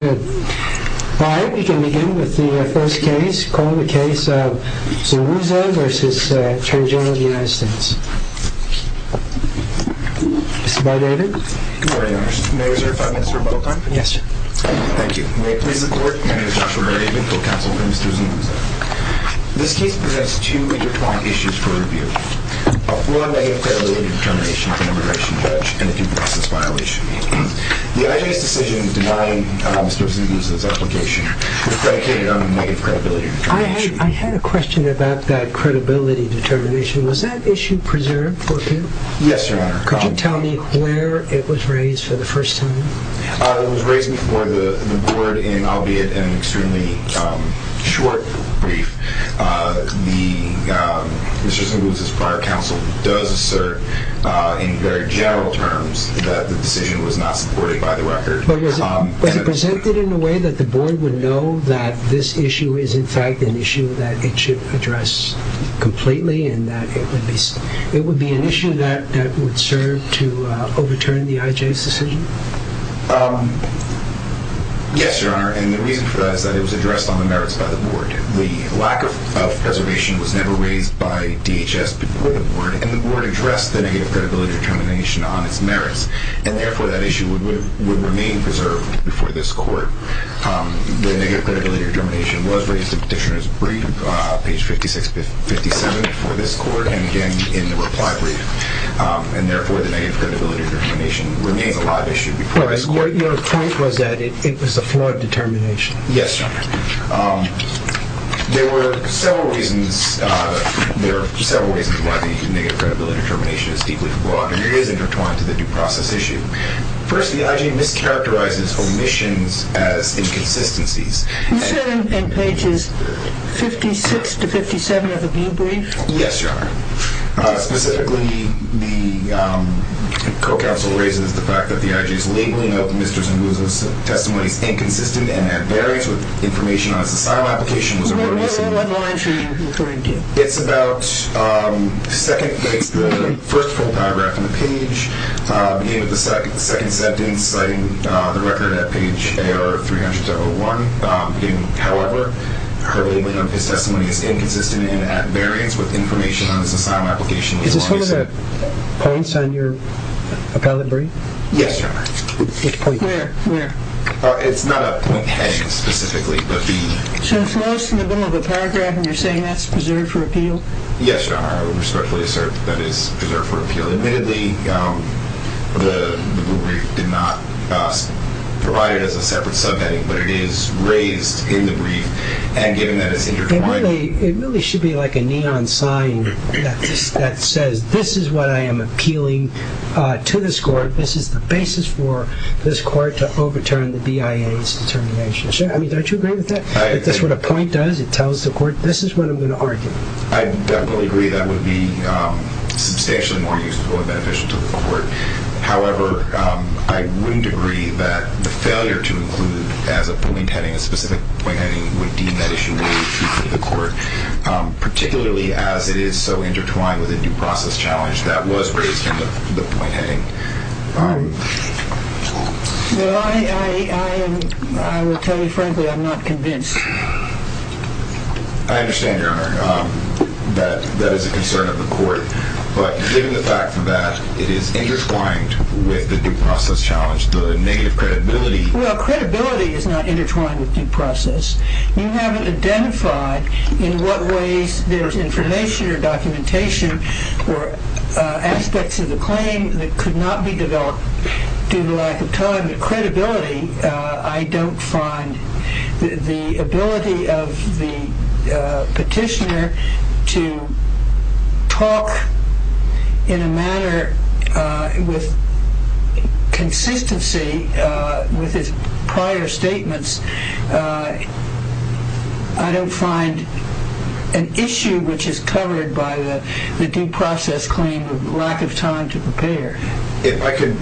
May I please report? My name is Dr. Larry Winkler, Counsel for Mr. Zunguza. This case possesses two major qualifications for review. One, that it is an early determination of an immigration pledge and two, that it is a violation. The IA's decision to deny Mr. Zunguza's application reflected an innate credibility. I had a question about that credibility determination. Was that issue preserved for him? Yes, Your Honor. Could you tell me where it was raised for the first time? It was raised before the board in an albeit an extremely short brief. Mr. Zunguza's prior counsel does assert in very general terms that the decision was not supported by the record. It was presented in a way that the board would know that this issue is in fact an issue that it should address completely. It would be an issue that would serve to overturn the IA's decision? Yes, Your Honor. And the reason for that is that it was addressed on the merits by the board. The lack of preservation was never raised by DHS before the board. And the board addressed the negative credibility determination on its merits. And therefore, that issue would remain preserved before this court. The negative credibility determination was raised in the petitioner's brief, page 5657, before this court and again in more than five regions. And therefore, the negative credibility determination would remain a live issue before this court. But your point was that it was a flawed determination? Yes, Your Honor. There were several reasons why the negative credibility determination is deeply flawed. It is in return to the due process issue. First, the IA mischaracterizes omissions as inconsistencies. You said on pages 56 to 57 of the blue brief? Yes, Your Honor. Specifically, the co-counsel raises the fact that the IJ's labeling of Mr. Zambouza's testimony inconsistent and at variance with information on his asylum application. What line are you referring to? It's about the second page, the first full paragraph of the page. The name of the second sentence, citing the record at page AR-301. However, her labeling of his testimony is inconsistent and at variance with information on his asylum application. Is this one of the points on your appellate brief? Yes, Your Honor. Which point? Where? It's not a point A specifically, but B. So it's lost in the middle of the paragraph and you're saying that's preserved for appeal? Yes, Your Honor. I respectfully assert that it's preserved for appeal. Admittedly, the blue brief did not provide it as a separate subject, but it is raised in the brief and given that it's in your point. It really should be like a neon sign that says, this is what I am appealing to this court. This is the basis for this court to overturn the BIA's determination. Don't you agree with that? I agree. Because what a point does, it tells the court, this is what I'm going to argue. I definitely agree that would be substantially more useful and beneficial to the court. However, I wouldn't agree that the failure to include the fact that the brief had a specific point in it would deem that issue more useful to the court, particularly as it is so intertwined with a due process challenge that was raised in the point A. I will tell you frankly, I'm not convinced. I understand, Your Honor, that that is a concern of the court. But given the fact that it is intertwined with the due process challenge, the negative credibility... Well, credibility is not intertwined with due process. You haven't identified in what ways there's information or documentation or aspects of the claim that could not be developed due to lack of time. In terms of credibility, I don't find the ability of the petitioner to talk in a manner with consistency with his prior statements. I don't find an issue which is covered by the due process claim of lack of time to prepare. If I could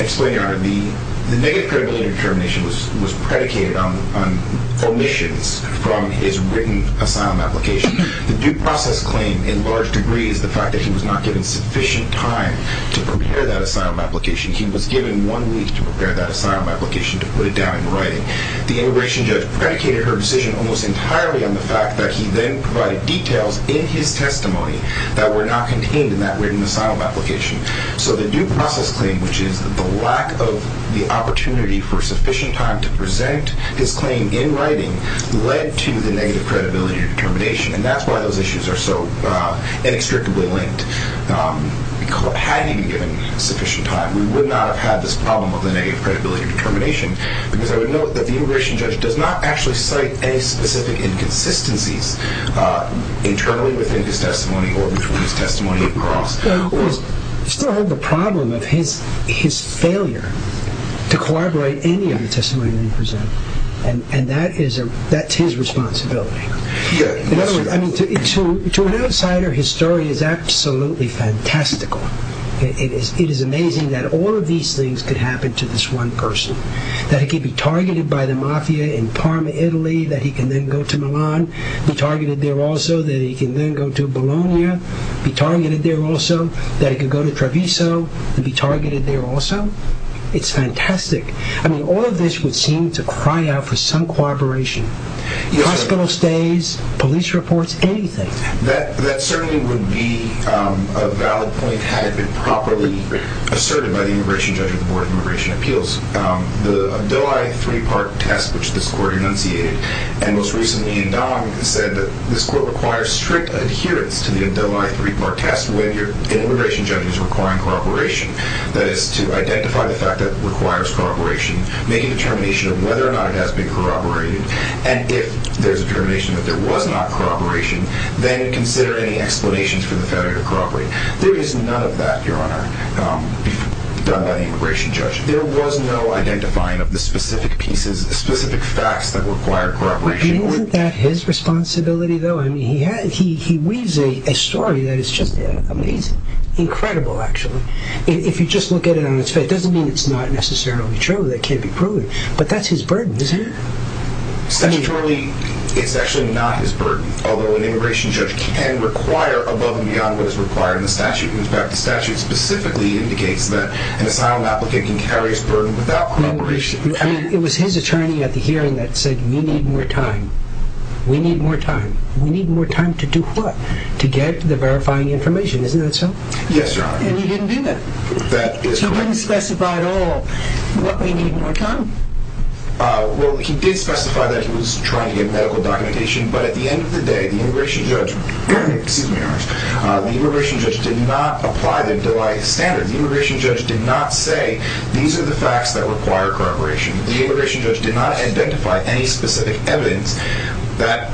explain, Your Honor, the negative credibility determination was predicated on omissions from his written asylum application. The due process claim, in large degree, is the fact that he was not given sufficient time to prepare that asylum application. He was given one week to prepare that asylum application to put it down in writing. The immigration judge predicated her decision almost entirely on the fact that he then provided details in his testimony that were not contained in that written asylum application. So the due process claim, which is a lack of the opportunity for sufficient time to present his claim in writing, led to the negative credibility determination. And that's why those issues are so inextricably linked. Had he been given sufficient time, we would not have had this problem of the negative credibility determination. Because I would note that the immigration judge does not actually cite any specific inconsistencies internally within his testimony or between his testimony at all. It's part of the problem of his failure to corroborate any of the testimony that he presents. And that is his responsibility. In other words, to an outsider, his story is absolutely fantastical. It is amazing that all of these things could happen to this one person. That he could be targeted by the mafia in Parma, Italy. That he could then go to Milan, be targeted there also. That he could then go to Bologna, be targeted there also. That he could go to Treviso, be targeted there also. It's fantastic. I mean, all of this would seem to cry out for some cooperation. Hospital stays, police reports, anything. That certainly would be a valid point had it been properly asserted by the immigration judge in the Board of Immigration Appeals. The Adolai three-part test, which this court enunciated, and most recently in Donovan, is that this court requires strict adherence to the Adolai three-part test when your immigration judge is requiring corroboration. That is to identify the fact that it requires corroboration. Make a determination of whether or not it has to be corroborated. And if there's determination that there was not corroboration, then consider any explanations for the failure to corroborate. There is none of that, Your Honor, done by the immigration judge. There was no identifying of the specific pieces, the specific facts that required corroboration. Isn't that his responsibility, though? He weaves a story that is just incredible, actually. If you just look at it on its face, it doesn't mean it's not necessarily true, that it can't be proven. But that's his burden, isn't it? Statutorily, it's actually not his burden, although an immigration judge can require above and beyond what is required in the statute. In fact, the statute specifically indicates that an asylum applicant can carry his burden without corroboration. It was his attorney at the hearing that said, We need more time. We need more time. We need more time to do what? To get to the verifying information. Isn't that so? Yes, Your Honor. And he didn't do that. That is correct. He didn't specify at all that we need more time. Well, he did specify that he was trying to get medical documentation, but at the end of the day, the immigration judge, excuse me, Your Honor, the immigration judge did not apply the Delia standard. The immigration judge did not say, These are the facts that require corroboration. The immigration judge did not identify any specific evidence that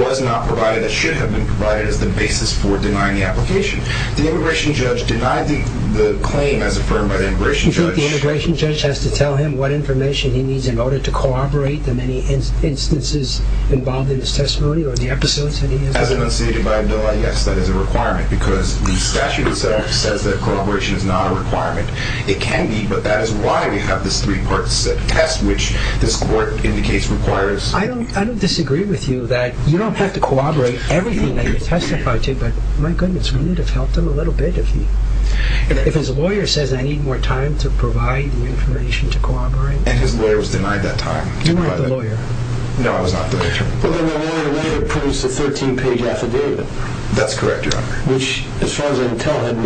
was not provided, that shouldn't have been provided as the basis for denying the application. The immigration judge denied the claim as affirmed by the immigration judge. Do you feel that the immigration judge has to tell him what information he needs in order to corroborate the many instances involved in his testimony, or the episodes that he has? As it was stated by Delia, yes, but as a requirement, because the statute says that corroboration is not a requirement. It can be, but that is why we have these three parts, the test which this court indicates requires. I don't disagree with you that you don't have to corroborate everything that it testifies to, but my goodness, you need to have helped him a little bit. If his lawyer says I need more time to provide the information to corroborate. And his lawyer has denied that time. You weren't the lawyer. No, I was not the lawyer. Well, the lawyer never published a 13-page affidavit. That's correct, Your Honor. Which, as far as I can tell, it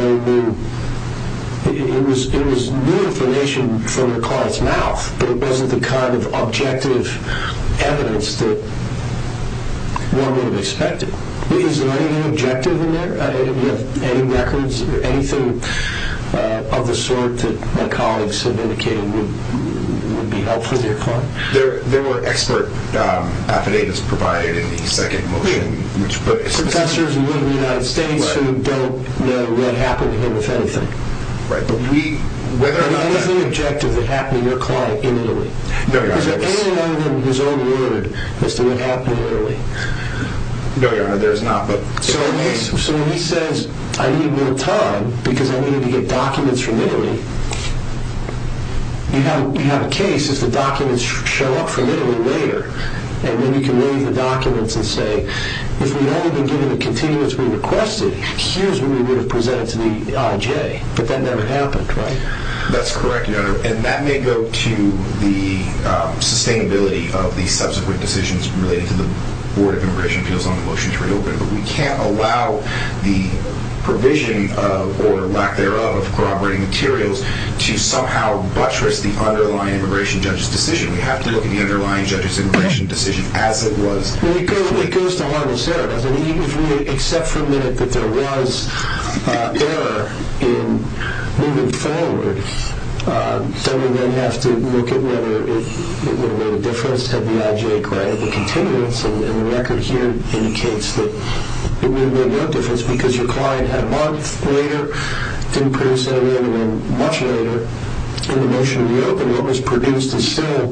was new information from the courts now, but it wasn't the kind of objective evidence that one would have expected. Is there any objective in there, any records, anything of the sort that my colleagues have indicated would be helpful to your client? There were expert affidavits provided, and he's not getting what we expect. Professors in the United States who don't know what happened here will tell you. Right, but we, whether or not. There's no objective that happened to your client in the room. No, Your Honor. So when he says, I need more time because I need to get documents from Hillary, you have a case if the documents show up for Hillary later, and then we can read the documents and say, if we'd only been given a continuous re-requested, here's what we would have presented to the IJ. But that never happened, right? That's correct, Your Honor. And that may go to the sustainability of the subsequent decisions relating to the Board of Immigration, just on the motions we're dealing with. But we can't allow the provision or lack thereof of corroborating materials to somehow buttress the underlying immigration judge's decision. We have to look at the underlying judge's immigration decision as it was. It goes to one of the scenarios. I mean, even if you make an exception that there was error in moving forward, then we're going to have to look at whether it would have made a difference had the IJ granted the continuance. And the record here indicates that it may have made no difference because your client had a month later, increased error, and then much later, the motion to reopen almost produced a similar,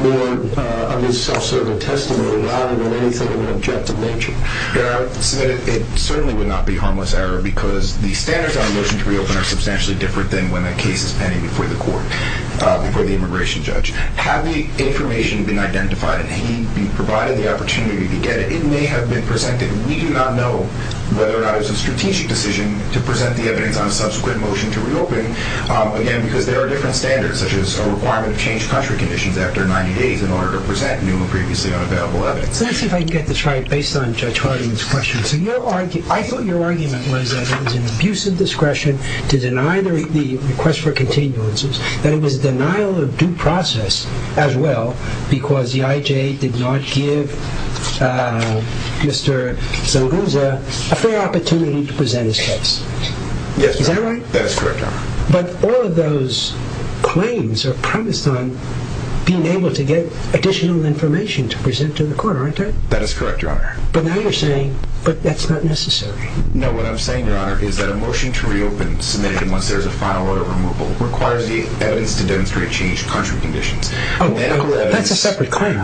more under self-serving testimony, Your Honor, than anything in the objective mentioned. Your Honor, it certainly would not be harmless error because the standards on motions to reopen are substantially different than when the case is pending before the court, before the immigration judge. Had the information been identified and he'd been provided the opportunity to get it, it may have been presented. We do not know whether or not it was a strategic decision to present the evidence on a subsequent motion to reopen. We do know that there are different standards, such as the requirement to change contract conditions after 90 days in order to present, you know, previously on a bail of 11. Let me see if I can get this right based on Judge Harding's question. I thought your argument was that there was an abuse of discretion to deny the request for continuances, that it was denial of due process as well because the IJ did not give Mr. Zaluza a fair opportunity to present his case. Yes, Your Honor. Is that right? That is correct, Your Honor. But all of those claims are premised on being able to get additional information to present to the court, aren't they? That is correct, Your Honor. But now you're saying, but that's not necessary. No, what I'm saying, Your Honor, is that a motion to reopen submitted once there's a final order removal requires the evidence to demonstrate a change in contract conditions. That's a separate claim.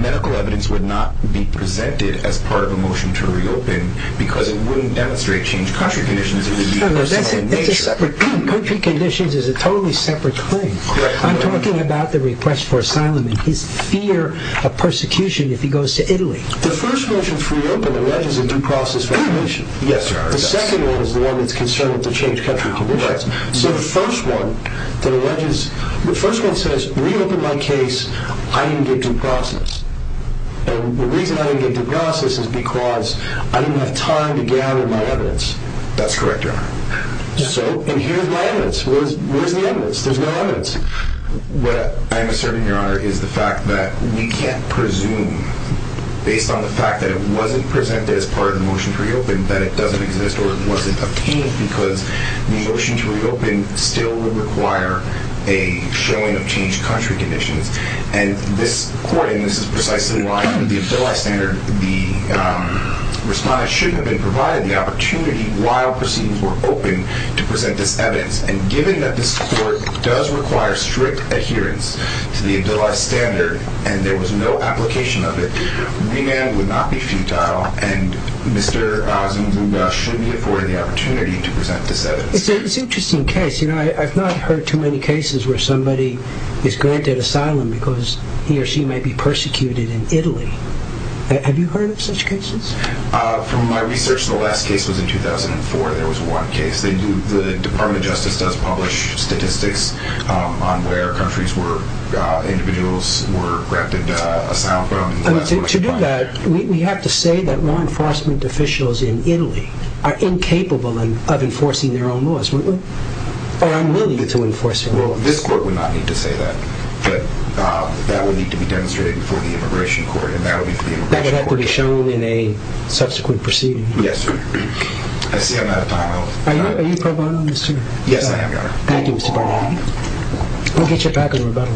Medical evidence would not be presented as part of a motion to reopen because it wouldn't demonstrate a change in contract conditions. Contract conditions is a totally separate claim. I'm talking about the request for asylum and his fear of persecution if he goes to Italy. The first motion to reopen alleges a due process violation. Yes, Your Honor. The second one is the one that's concerned with the change in contract conditions. So the first one says, reopen my case, I need a due process. And the reason I need a due process is because I didn't have time to gather my evidence. That's correct, Your Honor. And here's my evidence. Where's the evidence? There's no evidence. What I'm asserting, Your Honor, is the fact that we can't presume, based on the fact that it wasn't presented as part of the motion to reopen, that it doesn't exist or it wasn't obtained because the motion to reopen still would require a showing of change in contract conditions. And this court, and this is precisely why the civilized standard, the response shouldn't have been provided, the opportunity while proceedings were open to present this evidence. And given that this court does require strict adherence to the civilized standard and there was no application of it, the ban would not be futile and Mr. Zuniga shouldn't be afforded the opportunity to present this evidence. It's an interesting case. I've not heard too many cases where somebody is granted asylum because he or she might be persecuted in Italy. Have you heard of such cases? From my research, the last case was in 2004. There was one case. The Department of Justice does publish statistics on where countries where individuals were granted asylum. To do that, we have to say that law enforcement officials in Italy are incapable of enforcing their own laws. Or unwilling to enforce their own laws. This court would not need to say that. That would need to be demonstrated before the Immigration Court. That would have to be shown in a subsequent proceeding. Yes, sir. I see I'm out of time. Are you pro bono, Mr. Zuniga? Yes, I am. Thank you, Mr. Zuniga. Go get your packet of rubato.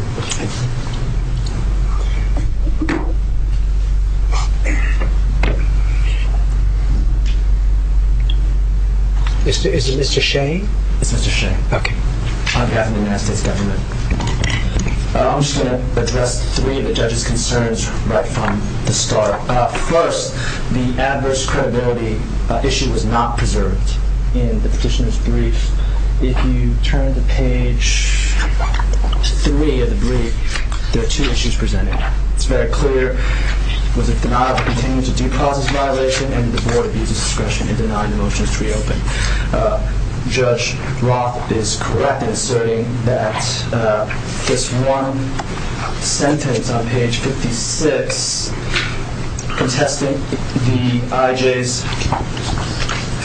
Is it Mr. Shea? Mr. Shea. Okay. I've got an announcement to make. I also want to address three of the judge's concerns right from the start. First, the adverse credibility issue was not preserved in the petitioner's brief. If you turn to page 3 of the brief, there are two issues presented. It's very clear. Was it the denial of presumptive due process violation? And was there more abuse of discretion in the denial of history opening? Judge Roth is correct in saying that this one sentence on page 56 contesting the IJ's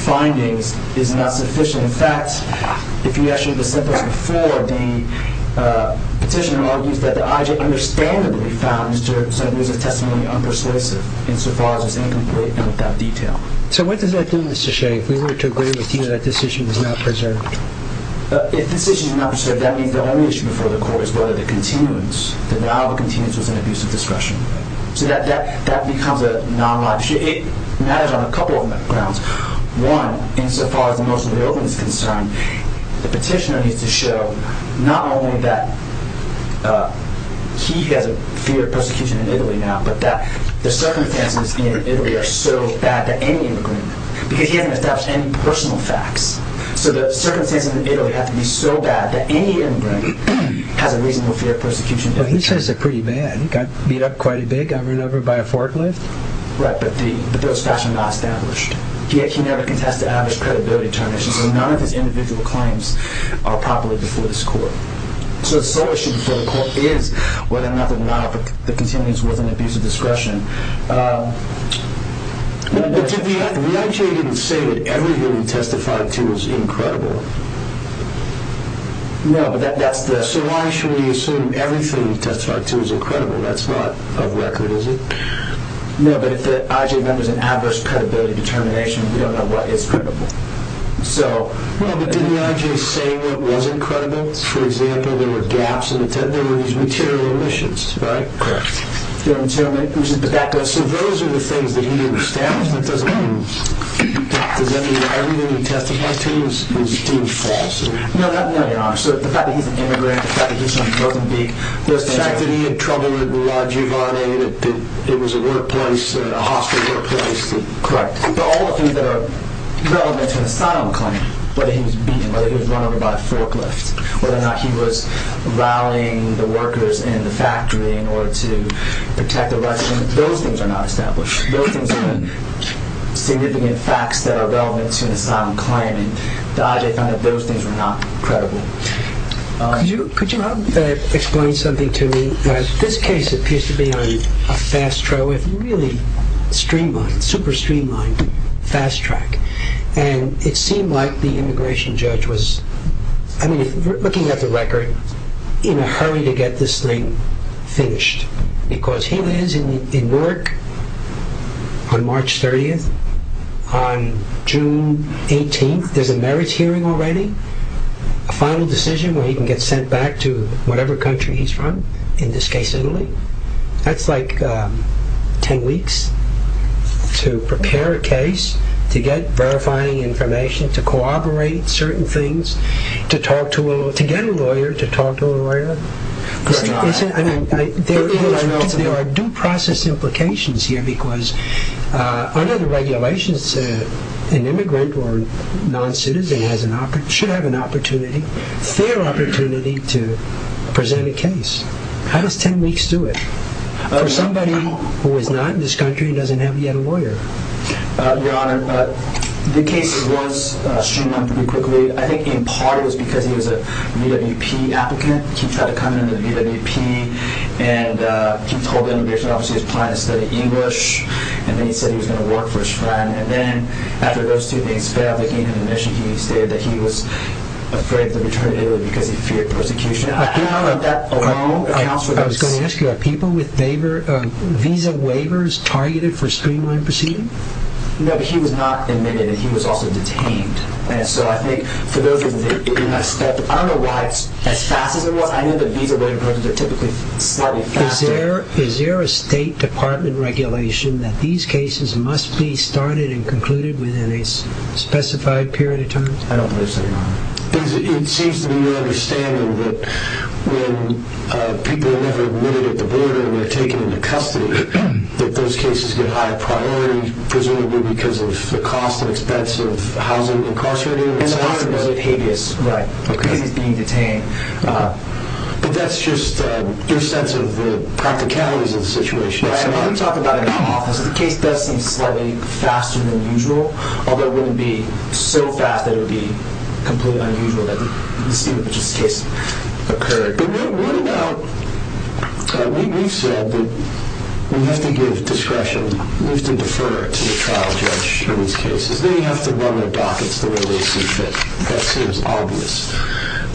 findings is not sufficient. In fact, if you actually look at the sentence before, the petitioner argues that the IJ understandably found the judge's evidence of testimony unpersuasive insofar as incomplete in that detail. So what does that do, Mr. Shea, in order to agree with you that this issue is not preserved? If this issue is not preserved, that means the only issue before the court is whether the continuance, whether the continuance was an abuse of discretion. So that becomes a non-arguable issue. It matters on a couple of grounds. One, insofar as the most of the evidence is concerned, the petitioner needs to show not only that he has a fear of persecution in Italy now, but that the circumstances in Italy are so bad that any immigrant can get in without any personal facts. So the circumstances in Italy have to be so bad that any immigrant has a reasonable fear of persecution. But he says they're pretty bad. He got beat up quite a bit, I remember, by a forklift. Right, but those facts are not established. The IJ never contested Abbott's credibility in China, so none of his individual claims are properly before this court. So the sole issue before the court is whether or not the continuance was an abuse of discretion. The IJ didn't say that everything we testified to was incredible. No, so long as we assume everything we testified to is incredible, that's not a record, is it? No, but if the IJ remembers an adverse credibility determination, we don't know what is credible. So, well, but didn't the IJ say what was incredible? For example, there were gaps in the testimony, there were these material issues, right? Correct. So those are the things that he understands but doesn't use. Everything we testified to was false? No, not at all. So the fact that he's an immigrant, the fact that he's on a broken beak, the fact that he had trouble with the large URA, that there was a workplace, a hospital workplace. Correct. All of these are relevant to his final claim, whether he was beaten, whether he was run over by a forklift, whether or not he was rallying the workers in the factory in order to protect the Russians. Those things are not established. Those things are significant facts that are relevant to his final claim. The IJ found that those things were not credible. Could you explain something to me? Because this case appears to be on a fast track, really streamlined, super streamlined, fast track, and it seemed like the immigration judge was, I mean, looking at the record, in a hurry to get this thing finished. Because he lands in Newark on March 30th, on June 18th, there's a merits hearing already, a final decision where he can get sent back to whatever country he's from, in this case Italy. That's like ten weeks to prepare a case, to get verifying information, to corroborate certain things, to get a lawyer, to talk to a lawyer. There are due process implications here because under the regulations, an immigrant or non-citizen should have an opportunity, fair opportunity, to present a case. How does ten weeks do it? Somebody who is not in this country doesn't have yet a lawyer. Your Honor, the case was streamlined pretty quickly. I think in part it was because he was a VWP applicant. He tried to come into VWP and he told them he was obviously applying to study English, and then he said he was going to work for his friend. And then after those two things failed, they gave him admission, he was cleared that he was afraid to return to Italy because he feared persecution. Your Honor, I was going to ask you, are people with visa waivers targeted for streamlined proceedings? No, but he was not admitted and he was also detained. And so I think for those of you who didn't understand, I don't know why exactly, but I know that visa waivers are typically partly taxed. Is there a State Department regulation that these cases must be started and concluded within a specified period of time? I don't listen, Your Honor. It seems to me you're understanding that when people have been admitted to the border and they're taken into custody, that those cases get higher priority, presumably because of the cost and expense of housing the incarcerated. There's a lot of other cases that could be detained. But that's just your sense of the practicalities of the situation. When you talk about an imposter, the case does things probably faster than usual, although it wouldn't be so bad that it would be completely unusual that these cases occurred. But when you go out, we've said that we have to give discretion. We have to defer to the trial judge for these cases. We have to run the docket for those cases. That seems obvious.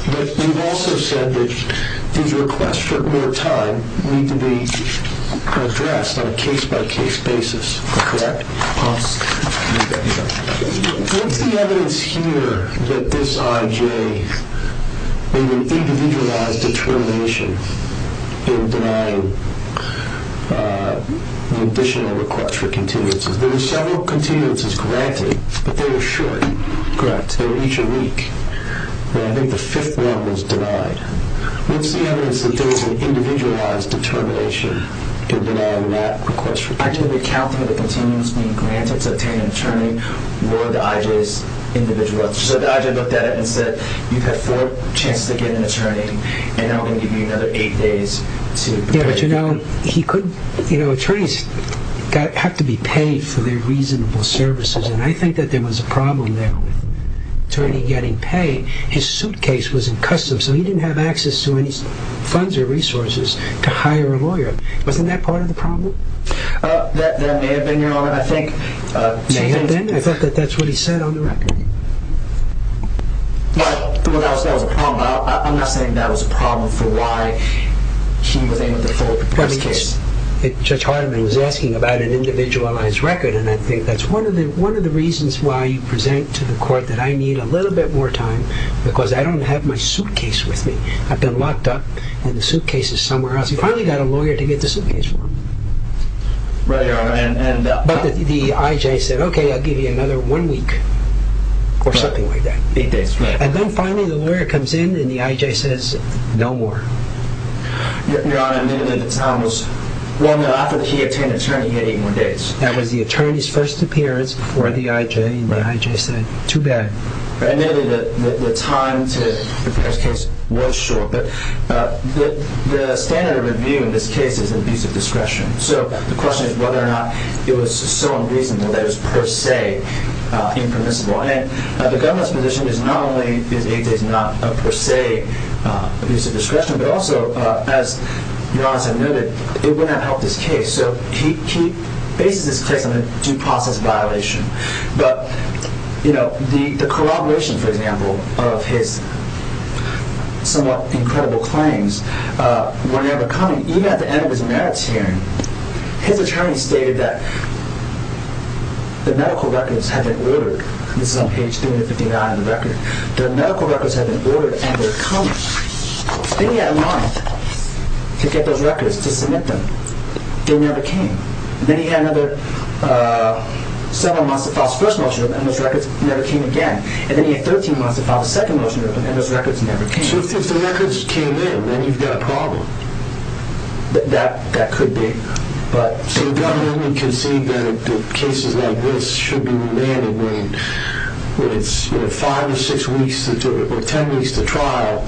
But we've also said that due to request for more time, we need to address on a case-by-case basis Correct. What's the evidence here that this IJ made an individualized determination in denying the additional request for continuances? There were several continuances granted, but they were short. Correct. They were each a week. And I think the fifth one was denied. What's the evidence that there was an individualized determination in denying that request? I can recount one of the continuances being granted to obtain an attorney or the IJ's individual. So the IJ looked at it and said, you've had four chances to get an attorney, and now I'm going to give you another eight days to prepare. But you know, attorneys have to be paid for their reasonable services, and I think that there was a problem that with the attorney getting paid, his suitcase was in custom, so he didn't have access to any funds or resources to hire a lawyer. Wasn't that part of the problem? That may have been, Your Honor, I think. May have been? I thought that's what he said on the record. Well, that was a problem. I'm not saying that was a problem for why he would end up with a full-court case. Judge Hartman was asking about an individualized record, and I think that's one of the reasons why you present to the court that I need a little bit more time because I don't have my suitcase with me. I've been locked up, and the suitcase is somewhere else. You've probably got a lawyer to get the suitcase from. Right, Your Honor. But the I.J. said, okay, I'll give you another one week or something like that. Eight days, right. And then finally the lawyer comes in, and the I.J. says, no more. Your Honor, the time was long enough that he obtained an attorney in 81 days. That was the attorney's first appearance for the I.J., and the I.J. said, too bad. I know that the time for this case was short, but the standard of review in this case is abuse of discretion. So the question is whether or not it was so unreasonable that it was per se impermissible. And the government's position is not only that it is not a per se abuse of discretion, but also, as Your Honor has noted, it would not help this case. Okay, so he faces this statement of due process violation. But, you know, the corroboration, for example, of his somewhat incredible claims, when they were coming, even at the end of his merits hearing, his attorney stated that the medical records had been ordered. This is on page 359 of the record. The medical records had been ordered, and they're coming. Then he had a month to get those records, to submit them. They never came. Then he had another several months to file his first motion, and those records never came again. And then he had 13 months to file his second motion, and those records never came again. So if the records came in, then he's got a problem. That could be. So the government can say that a case like this should be remanded, when it's five or six weeks or 10 weeks to trial,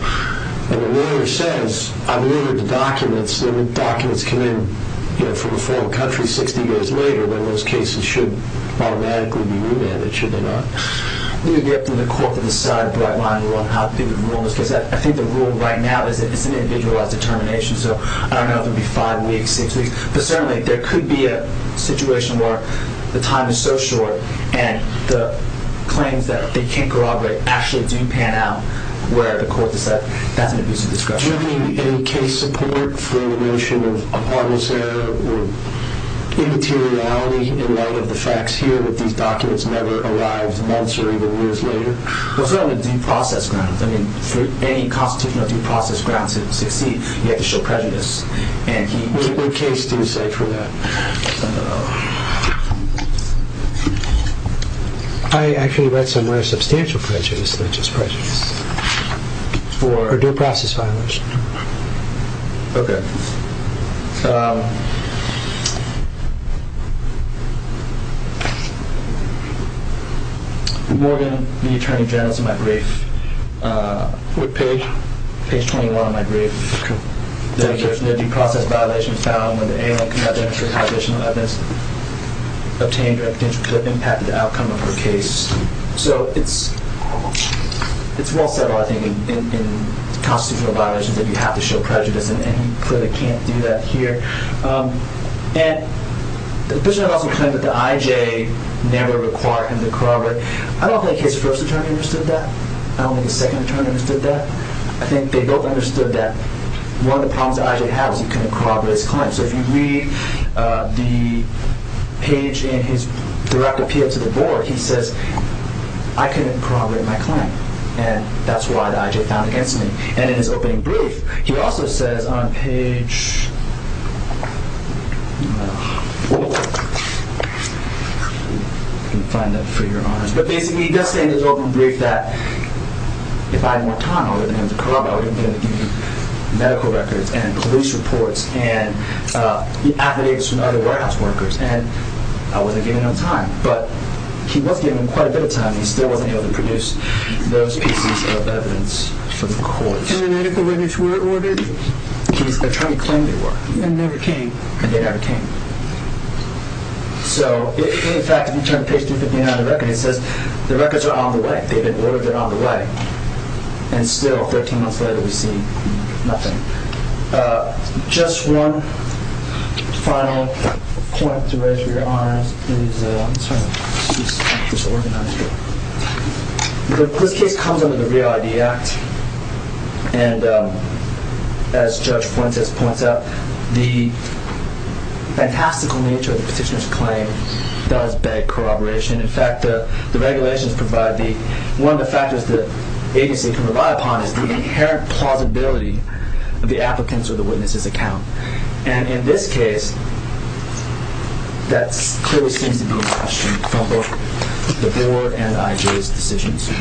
and the lawyer says, I believe in the documents, when the documents came from a foreign country 60 years later, then those cases should automatically be remanded, should they not? Let me get to the court from the start, if you don't mind, because I think the rule right now is individualized determination. So I don't know if it would be five weeks, six weeks. But certainly there could be a situation where the time is so short and the claims that they can't corroborate actually do pan out, where the court decides that there needs to be a discussion. Do you have any case support for the notion of harmless error or immateriality in light of the facts here that these documents never arrived months or even years later? Well, certainly on the due process grounds. I mean, for any constitutional due process grounds, it succeeds. You have to show prejudice. What case do you say for that? I actually write somewhere substantial prejudice, and that's just prejudice for due process violations. Okay. More than the attorney general's in my brief. What page? Page 21 of my brief. Okay. The due process violation found in the A1C subject to a population of evidence obtained that could have impacted the outcome of the case. So it's more federal, I think, in constitutional violations that you have to show prejudice, and you clearly can't do that here. And this is also kind of what the IJ narrowly required them to corroborate. I don't think the first attorney understood that. I don't think the second attorney understood that. I think they both understood that one of the problems that IJ has is he can't corroborate his claim. So if you read the page in his direct appeal to the board, he says, I couldn't corroborate my claim, and that's why the IJ found him to be. And in his open brief, he also says on page 4, I can find that for you. But basically, he does say in his open brief that if I had more time, I would have been corroborating the medical records and police reports and the affidavits from other warehouse workers, and I wouldn't have given him time. But he was given quite a bit of time, and he still wasn't able to produce those pieces of evidence for the court. And the medical evidence were ordered? The attorney claimed they were. And they never came? And they never came. So in fact, in terms of the record, he says the records are on the way. They've been ordered and on the way. And still, 13 months later, we see nothing. Just one final point to raise for your honor. The plique comes under the Real ID Act, and as Judge Fuentes points out, the fantastical nature of the petitioner's claim does beg corroboration. In fact, the regulations provide the one of the factors the agency can rely upon is the inherent plausibility of the applicant's or the witness's account. And in this case, that clearly seems to be a question for both the viewer and IJ's decision-making.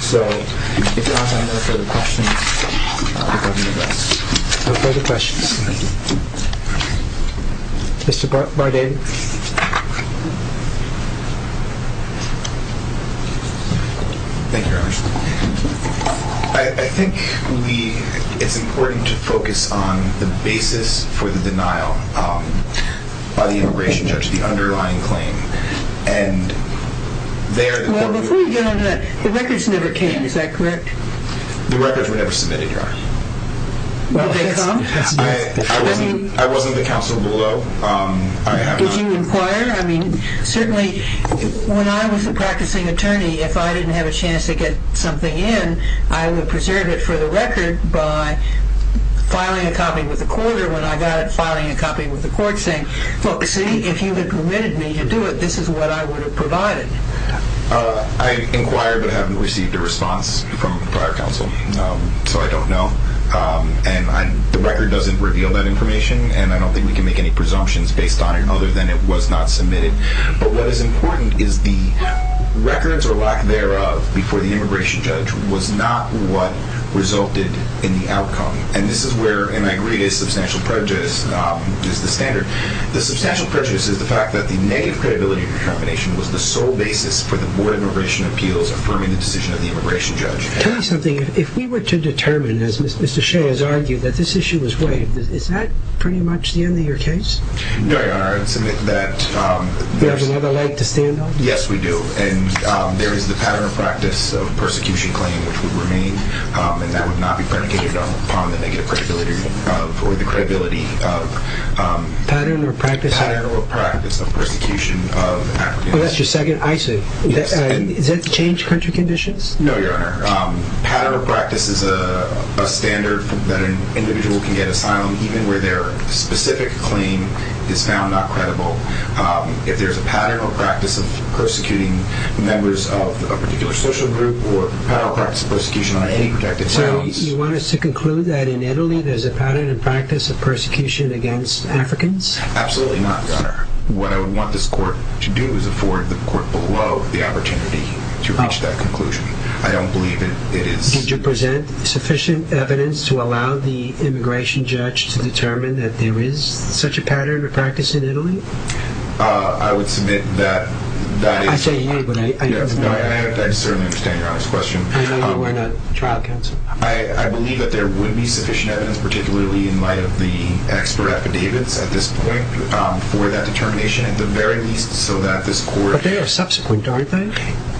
So, if there are no further questions, I'll open it up. No further questions. Mr. Barden. Thank you, Your Honor. I think it's important to focus on the basis for the denial by the immigration judge, the underlying claim. Well, but we've done that. The records never came, is that correct? The records were never submitted, Your Honor. Were they, Tom? I wasn't a counsel below. Did you inquire? I mean, certainly, when I was a practicing attorney, if I didn't have a chance to get something in, I would preserve it for the record by filing a copy with the court, or when I got it, filing a copy with the court saying, look, see, if you had permitted me to do it, this is what I would have provided. I inquired, but haven't received a response from the court of counsel, so I don't know. And the record doesn't reveal that information, and I don't think we can make any presumptions based on it, other than it was not submitted. But what is important is the records or lack thereof before the immigration judge was not what resulted in the outcome. And this is where, and I agree, a substantial prejudice is the standard. The substantial prejudice is the fact that the negative credibility of determination was the sole basis for the Board of Immigration Appeals affirming the decision of the immigration judge. Tell me something. If we were to determine, as Mr. Shea has argued, that this issue was right, is that pretty much the end of your case? No, Your Honor. I submit that... Do you have another light to stand on? Yes, we do. And there is the pattern of practice of persecution claim, which would remain, and that would not be predicated upon the negative credibility Pattern or practice? Pattern or practice of persecution of an African-American. That's your second? I see. Does that change country conditions? No, Your Honor. Pattern of practice is a standard that an individual can get a file on, even where their specific claim is found not credible. If there's a pattern or practice of persecuting members of a particular social group or pattern or practice of persecution on any objective... So you want us to conclude that in Italy there's a pattern or practice of persecution against Africans? Absolutely not, Your Honor. What I would want this court to do is afford the court below the opportunity to reach that conclusion. I don't believe that it is... Did you present sufficient evidence to allow the immigration judge to determine that there is such a pattern or practice in Italy? I would submit that that is... I'm saying you, but I don't know... I certainly understand your honest question. I believe that there would be sufficient evidence, particularly in light of the expert affidavits at this point, for that determination, at the very least, so that this court... But they are subsequent, aren't they?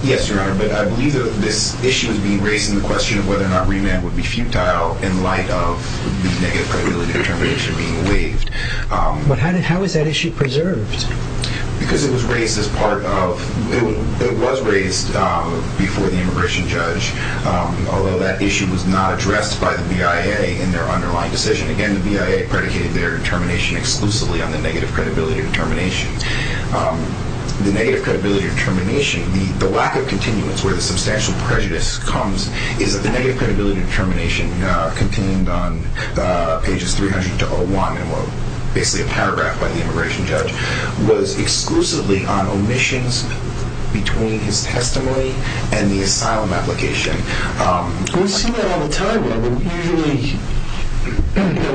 Yes, Your Honor, but I believe that this issue would be raising the question of whether or not remand would be futile in light of the negative credibility distribution being waived. But how is that issue preserved? Because it was raised as part of... It was raised before the immigration judge, although that issue was not addressed by the BIA in their underlying decision. Again, the BIA predicated their determination exclusively on the negative credibility determination. The negative credibility determination, the lack of continuance where the substantial prejudice comes, is that the negative credibility determination, continuing on pages 300 to 101, basically a paragraph by the immigration judge, was exclusively on omissions between his testimony and the asylum application. We'll see that all the time, then. Usually,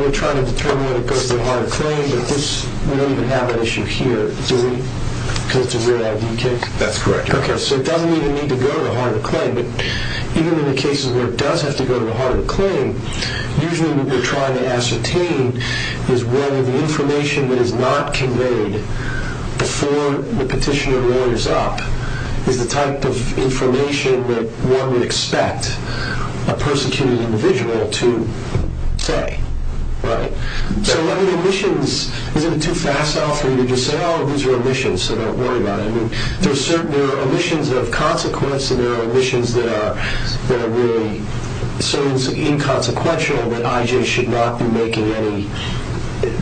we're trying to determine whether it goes to the heart of claim, but this wouldn't even have an issue here, do we? Could we have to do that, do you think? That's correct. Okay, so it doesn't even need to go to the heart of claim. But even in the cases where it does have to go to the heart of claim, usually what we're trying to ascertain is whether the information that is not conveyed before the petitioner layers up is the type of information that one would expect a persecuted individual to say. Right? So when the omissions... We're getting too fast often. We just say, oh, these are omissions, so don't worry about it. There are omissions of consequence, and there are omissions that are really sort of inconsequential that I.J. should not be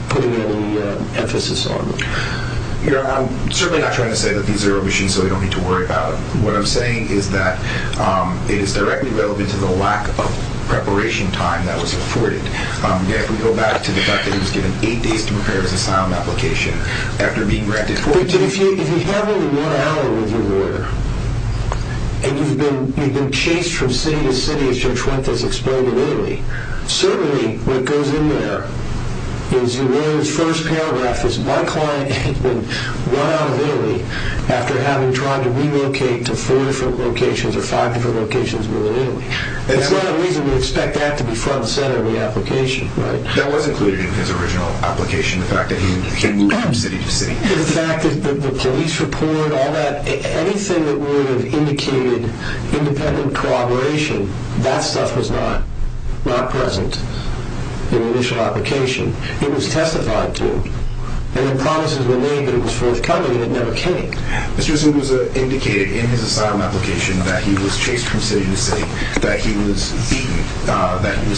putting any emphasis on. I'm certainly not trying to say that these are omissions, so we don't need to worry about them. What I'm saying is that it is directly relevant to the lack of preparation time that was supported. If we go back to the fact that he was given eight days to prepare his asylum application after being granted permission... If he's not only run out of room to do it, and he's been chased from city to city to try to explain to Italy, certainly what goes in there is the very first paragraph is, my client has been run out of Italy after having tried to relocate to four different locations or five different locations in Italy. There's no reason to expect that to be front and center of the application. That wasn't included in his original application, the fact that he moved from city to city. The fact that the police report, all that, anything that would have indicated independent corroboration, that stuff was not present in the initial application. It was testified to, and the promises were made that it was for recovery, and it never came. It was just that it was indicated in his asylum application that he was chased from city to city, that he was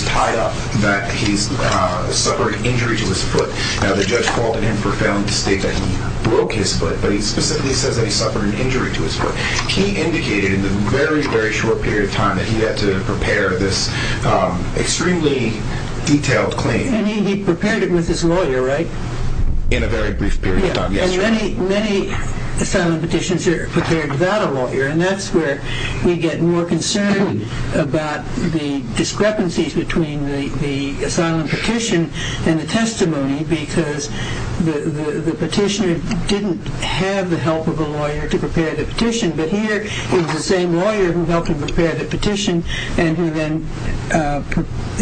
tied up, that he suffered an injury to his foot. The judge called it a profound mistake, that he broke his foot, but he specifically said that he suffered an injury to his foot. He indicated in a very, very short period of time that he had to prepare this extremely detailed claim. He prepared it with his lawyer, right? In a very brief period of time, yes. Many asylum petitions are prepared without a lawyer, and that's where we get more concerned about the discrepancies between the asylum petition and the testimony because the petitioner didn't have the help of a lawyer to prepare the petition, but here is the same lawyer who helped him prepare the petition and who then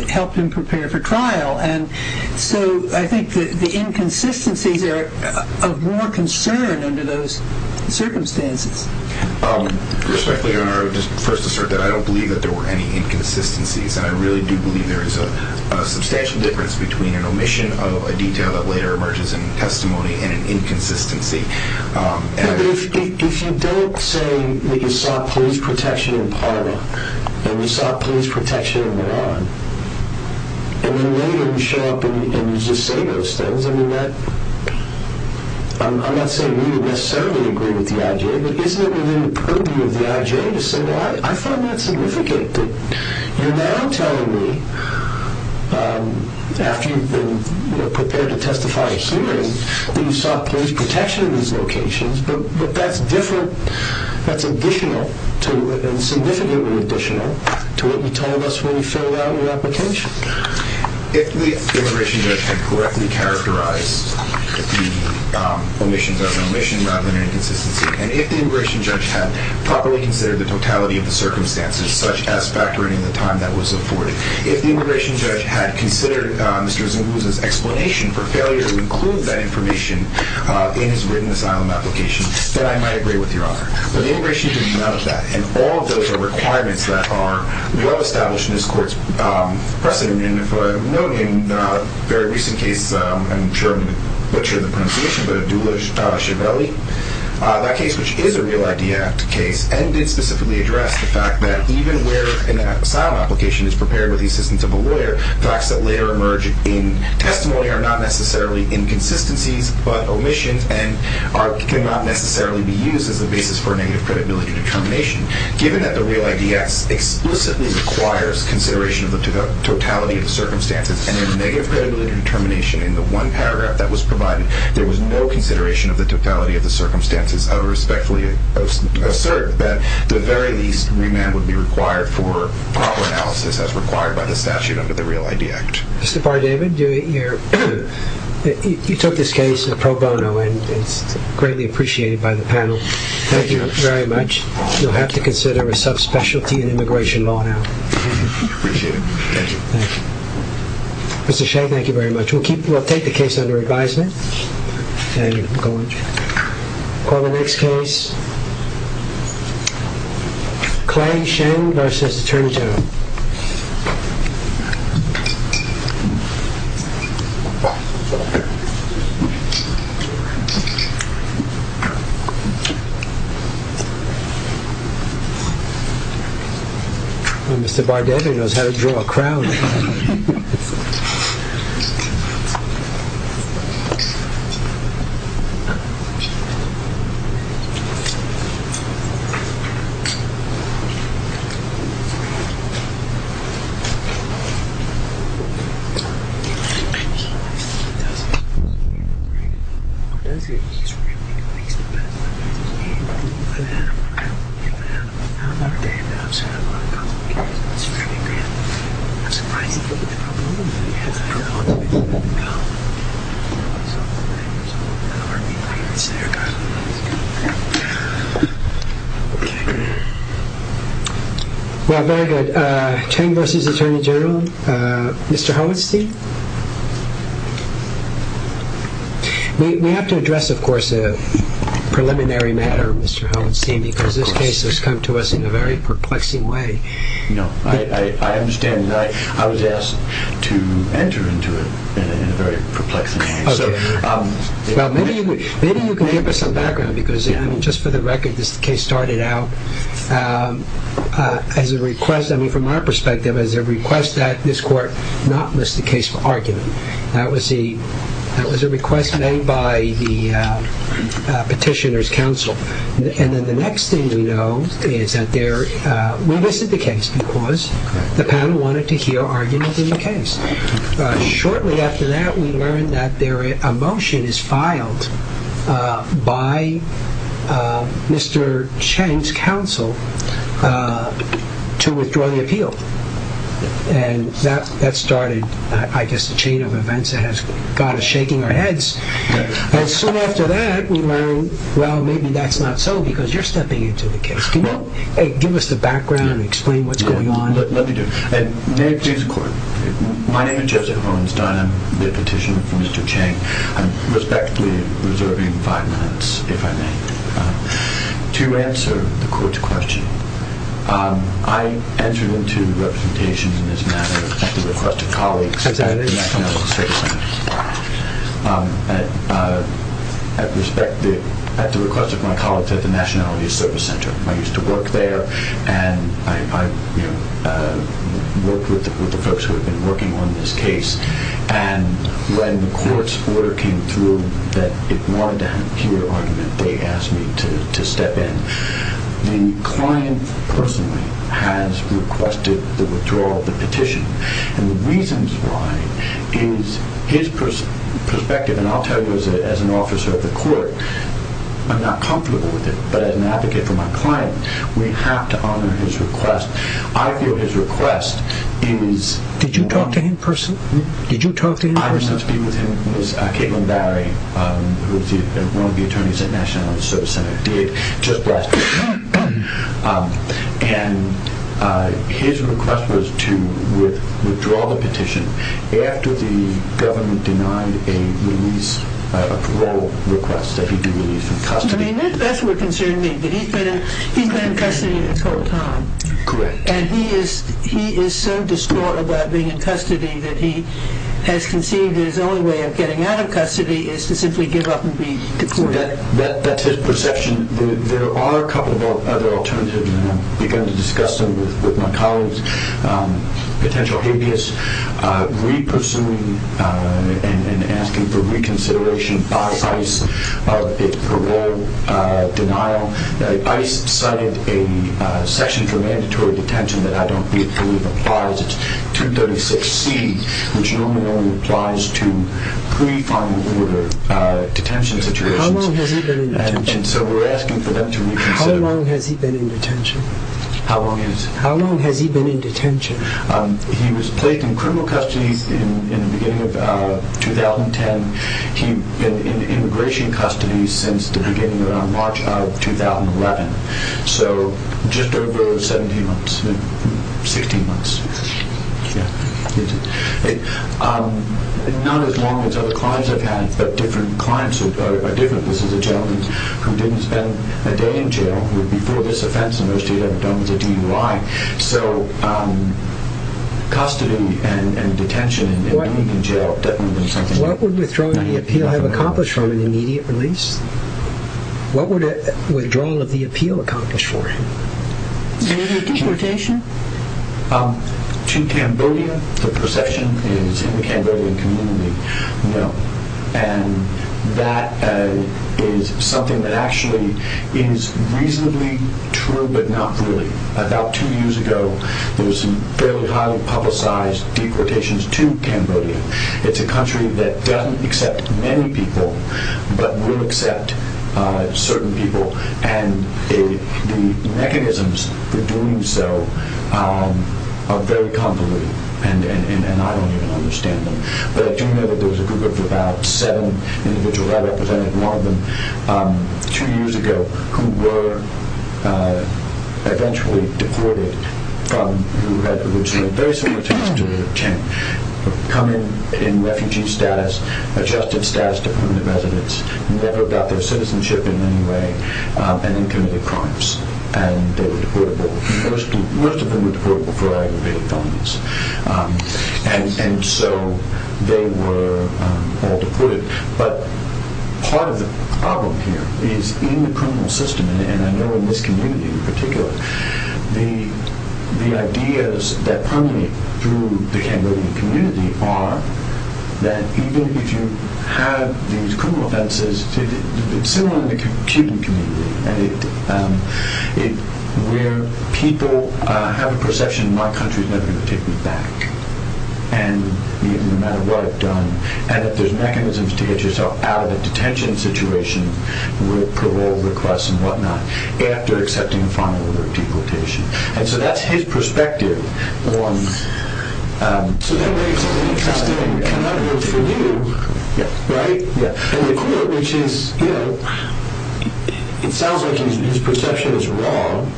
helped him prepare for trial, and so I think the inconsistencies are of more concern under those circumstances. Respectfully, Your Honor, I would just first assert that I don't believe that there were any inconsistencies. I really do believe there is a substantial difference between an omission of a detail that later emerges in the testimony and an inconsistency. But if you don't say that you sought police protection in Parma and you sought police protection in Iran, and then later you show up in Zestados, I mean, I'm not saying we would necessarily agree with the IJ, but isn't it within the purview of the IJ to say, well, I find that significant, and then I'm telling you, after you've been prepared to testify assuming that you sought police protection in these locations, but that's different, that's additional, and significantly additional to what you tell us when you fill out your application. If the immigration judge had correctly characterized the omissions of an omission and not an omission, and if the immigration judge had properly considered the totality of the circumstances, such as factoring in the time that was afforded, if the immigration judge had considered Mr. Zalouza's explanation for failure to include that information in his written asylum application, then I might agree with you, Your Honor. But the immigration judge acknowledged that, and all of those are requirements that are well established in this Court's precedent, but I'm noting in a very recent case, I'm sure I'm butchering the pronunciation, but of Duluth Shavelli, that case, which is a Real ID Act case, and it specifically addressed the fact that even where an asylum application is prepared with the assistance of a lawyer, facts that later emerge in testimony are not necessarily inconsistencies, but omissions, and cannot necessarily be used as a basis for negative credibility determination. Given that the Real ID Act explicitly requires consideration of the totality of the circumstances and a negative credibility determination in the one paragraph that was provided, there was no consideration of the totality of the circumstances. I respectfully assert that, at the very least, remand would be required for proper analysis, as required by the statute under the Real ID Act. Mr. Bardavid, you took this case pro bono, and it's greatly appreciated by the panel. Thank you very much. You'll have to consider a subspecialty in immigration law now. Thank you. Thank you. Mr. Shen, thank you very much. We'll take the case under advisement. Thank you. Go on. Call the next case. Clyde Shen v. The Turnzone. Mr. Bardavid knows how to draw a crown. Thank you. Okay. Well, very good. Shen v. The Turnzone. Mr. Holinsky? We have to address, of course, the preliminary matter, Mr. Holinsky, because this case has come to us in a very perplexing way. No. I understand that. I was asked to enter into it in a very perplexing way. Okay. Maybe we can give us some background, because just for the record, this case started out as a request, I mean, from our perspective, as a request that this court not list the case for argument. That was a request made by the Petitioner's Council. And then the next thing we know is that they're listed the case because the panel wanted to hear arguments in the case. Shortly after that, we learned that a motion is filed by Mr. Shen's council to withdraw the appeal. And that started, I guess, a chain of events that has got us shaking our heads. And so after that, we learned, well, maybe that's not so, because you're stepping into the case. Can you give us the background and explain what's going on? Let me do it. May I introduce the court? My name is Jessica Holinsky. I'm the Petitioner for Mr. Cheng. I'm respectfully reserving five minutes, if I may, to answer the court's question. I entered into representation in this matter at the request of colleagues at the National State Center. At the request of my colleagues at the Nationality Service Center. I used to work there, and I worked with the folks who had been working on this case. And when the court's order came through that it wanted to hear an argument, they asked me to step in. The client person has requested the withdrawal of the petition. The reasons why is his perspective, and I'll tell you as an officer of the court, I'm not comfortable with it. But as an advocate for my client, we have to honor his request. I feel his request is... Did you talk to him personally? Did you talk to him personally? I went to be with him with Caitlin Barry, who is one of the attorneys at Nationality Service Center. Just last week. And his request was to withdraw the petition after the government denied a release, a parole request that he did release in custody. That's what concerned me, that he's been in custody the whole time. Correct. And he is so distraught about being in custody that he has conceived his own way of getting out of custody is to simply give up and be deported. That's his perception. There are a couple of other alternatives. I'm going to discuss them with my colleagues. Potential habeas, re-pursuing and asking for reconsideration by ICE for parole denial. ICE cited a section for mandatory detention that I don't believe applies to 36C, which normally applies to pre-primary detention situations. How long has he been in detention? How long has he been in detention? How long is... How long has he been in detention? He was placed in criminal custody in the beginning of 2010. He's been in immigration custody since the beginning of March of 2011. So just over 17 months. 16 months. It's not as normal as other clients have had, but different clients have had it like this. This is a gentleman who didn't spend a day in jail. Before this offense, most of you have done was a DUI. So custody and detention... What would withdrawal of the appeal have accomplished for an immediate release? What would withdrawal of the appeal accomplish for it? Immediate deportation? To Cambodia? The possession is in the Cambodian community. No. And that is something that actually is reasonably true, but not really. About two years ago, there was some fairly highly publicized deportations to Cambodia. It's a country that doesn't accept many people, but will accept certain people. And the mechanisms for doing so are very convoluted. And I don't even understand them. But I do know that there was a group of about seven individuals. I represented one of them two years ago, who were eventually deported from the U.S., which was a very significant change. Coming in refugee status, adjusted status to come to residence. They never got their citizenship in any way. And they committed crimes. And most of them were for aggravated crimes. And so they were all deported. But part of the problem here is in the criminal system, and I know in this community in particular, the ideas that permeate through the Cambodian community are that even if you have these criminal offenses, it's still in the Cuban community. And where people have a perception, my country is never going to take me back. And no matter what, and that there's mechanisms to get yourself out of the detention situation with parole requests and whatnot, after accepting the final deportation. And so that's his perspective. So that raises an interesting thing. I'm not going to go through you. Right? Yeah. Which is, you know, it sounds like his perception is wrong,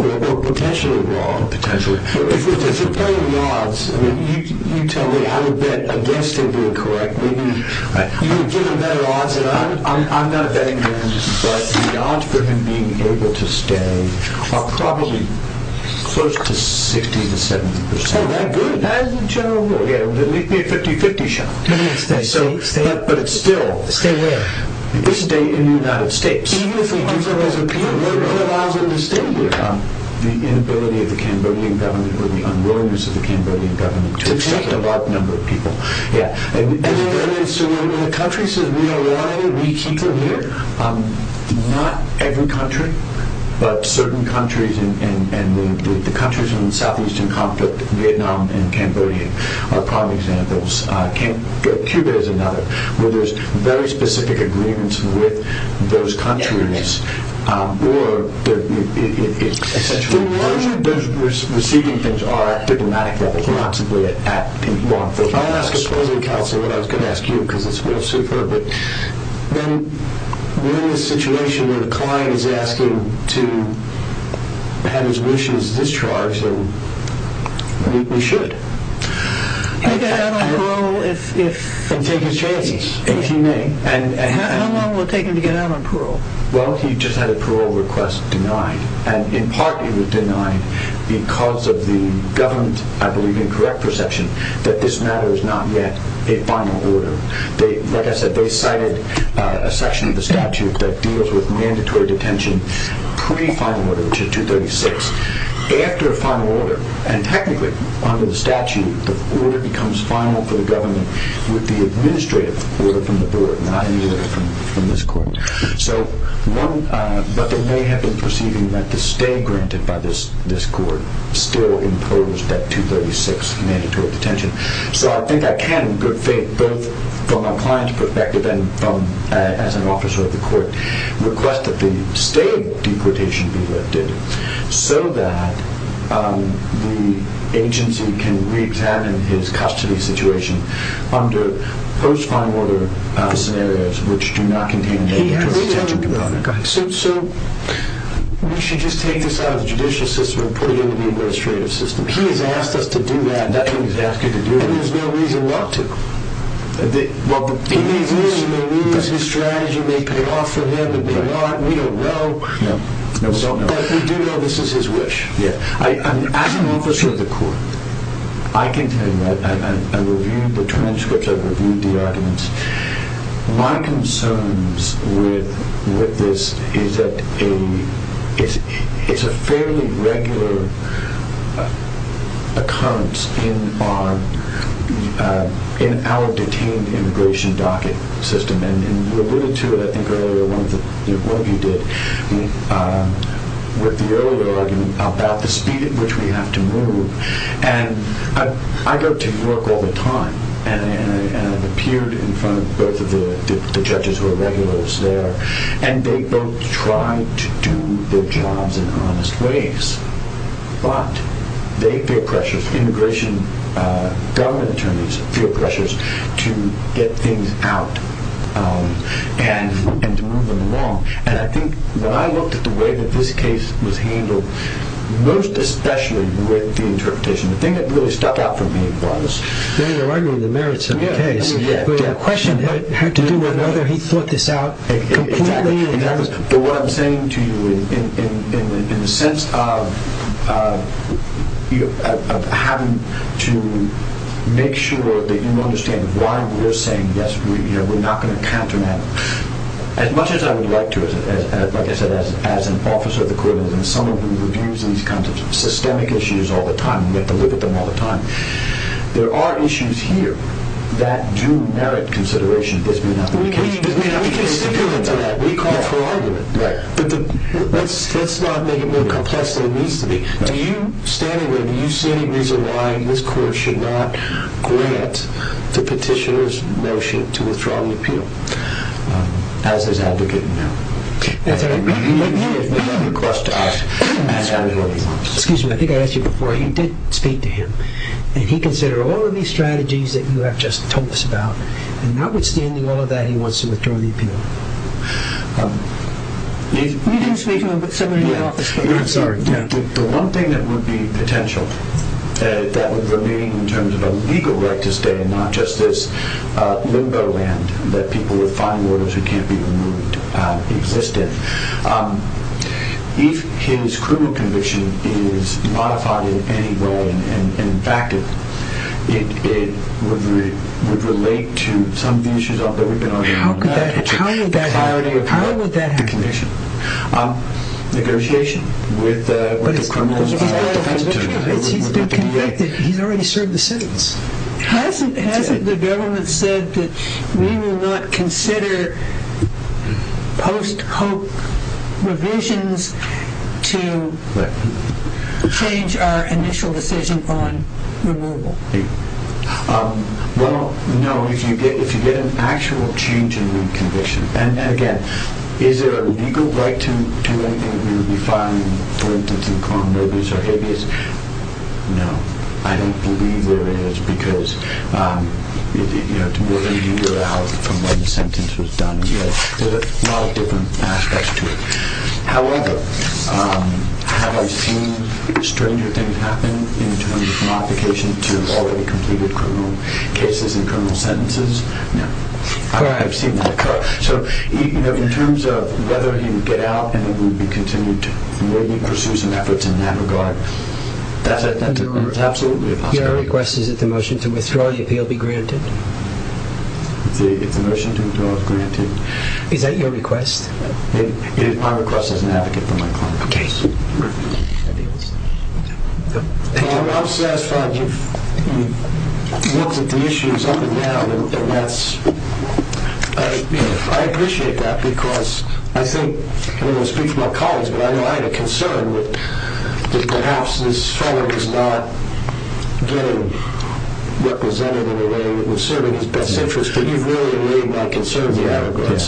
or potentially wrong. Potentially. If you're playing odds, you tell me how to bet against him you're correct. You give him that odds, and I'm not betting against him, but the odds for him being able to stay are probably close to 60% to 70%. Oh, that's good. That's a general rule. Yeah. It would make me a 50-50 shot. So, but still. Stay where? Stay in the United States. Even if there are hundreds of people, what allows them to stay? The ability of the Cambodian government, or the unwillingness of the Cambodian government. It's just a large number of people. Yeah. So, the countries that we are all reaching for here, not every country, but certain countries, and the countries in the Southeastern Conflict, Vietnam and Cambodia, are prime examples. Cuba is another, where there's very specific agreements with those countries. Yes. Or, it's essentially. The receiving things are at diplomatic level, not simply at people. If I ask a paroling counselor, I was going to ask you, because it's more superb, but when you're in a situation where the client is asking to have his wishes discharged, and we should. He'll get out on parole if. And take his charges. If he may. How long will it take him to get out on parole? Well, if he just had a parole request denied, and in part he was denied, because of the government, I believe, and correct perception, that this matter is not yet a final order. Like I said, they cited a section of the statute that deals with mandatory detention pre-final order, which is 236. After a final order, and technically, under the statute, the order becomes final for the government, with the administrative order from the board, not any order from this court. So, one, but they may have been perceiving that the stay granted by this court still imposed that 236 mandatory detention. So I think I can, in good faith, both from a client's perspective, and as an officer of the court, request that the stay deportation be lifted, so that the agency can re-examine his custody situation under post-final order scenarios, which do not contain mandatory detention. So, we should just make this out of the judicial system and put it in the administrative system. He has asked us to do that. He has asked you to do that. And there's no reason not to. Well, he may agree, and they may use his strategy, and they may pay off for him, and they may not, and we don't know. No. No, we don't know. But we do know this is his wish. Yeah. I mean, as an officer of the court, I can tell you that, and I've reviewed the transcripts, I've reviewed the arguments, my concerns with this is that a, it's a fairly regular occurrence in our detained immigration docket system, and in related to, I think, earlier, one of the, what he did with the earlier argument about the speed at which we have to move, and I go to New York all the time, and I've appeared in front of both of the judges who are regulars there, and they both try to do their jobs in honest ways, but they feel pressures, immigration government attorneys feel pressures to get things out and to move them along, and I think, when I looked at the way that this case was handled, most especially with the interpretation, the thing that really stuck out for me was... No, no, I mean the merits of the case. Yeah, yeah, yeah. The question had to do with whether he thought this out completely, and what I'm saying to you, in the sense of having to make sure that you understand why we're saying yes, we're here, we're not going to counter that. As much as I would like to, like I said, as an officer of the courthouse, and someone who reviews these kinds of systemic issues all the time, and we have to look at them all the time, there are issues here that do merit consideration, and there are issues that do not. We can appeal to that. We can appeal to that. We call for argument. Right. But let's not make it what a contest there needs to be. Do you, standing there, do you see any reason why this court should not grant the petitioner's motion to withdraw the appeal? As is advocating now. Okay. You let me hear it, but not the courthouse. Excuse me, I think I asked you before, you did speak to him, and he considered all of these strategies that you have just told us about, and notwithstanding all of that, he wants to withdraw the appeal. You can speak to him, but somebody else. I'm sorry. The one thing that would be potential that would remain in terms of a legal right to stay, and not just this limbo land that people will find in orders that can't be removed, existent, if his criminal conviction is modified in any way and in fact it would relate to some of the issues that we've been talking about. How would that happen? How would that happen? Negotiation. Negotiation? With the criminals? He's already served the sentence. Hasn't the government said that we will not consider post-hope revisions to change our initial decision to refine removal? Well, no. If you get an actual change in your conviction, and again, is there a legal right to do anything if you're refining going through criminal disobedience? No. I don't believe there is because if you have to go through your house from when the sentence was done, there's a lot of different aspects to it. However, have a few stranger things happen in terms of modification in terms of already completed criminal cases and criminal sentences? No. So, in terms of whether you get out and it will be continued, will you pursue some efforts in that regard? Absolutely not. Your request is that the motion to withdraw the appeal be granted? The motion to withdraw is granted. Is that your request? Our request is an advocate for a criminal case. Thank you. I'm satisfied. You've looked at the issues over and down and that's... I appreciate that because I think when I speak to my colleagues, I know I have a concern that perhaps this fellow has not been represented in a way that was serving his best interest. Could you really alleviate my concern? Yeah, go ahead.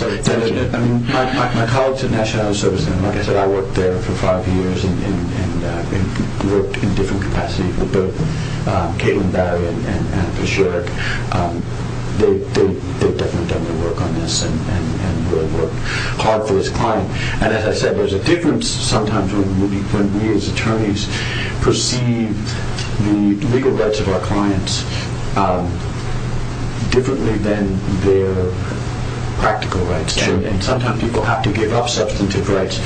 I call it to national uncertainty. Like I said, I worked there for five years and worked in different capacities with both Caitlin Barry and the sheriff. They definitely work on this and they're hard for this client. As I said, there's a difference sometimes when we as attorneys perceive the legal rights of our clients differently than their practical rights. And sometimes people have to give up substantive rights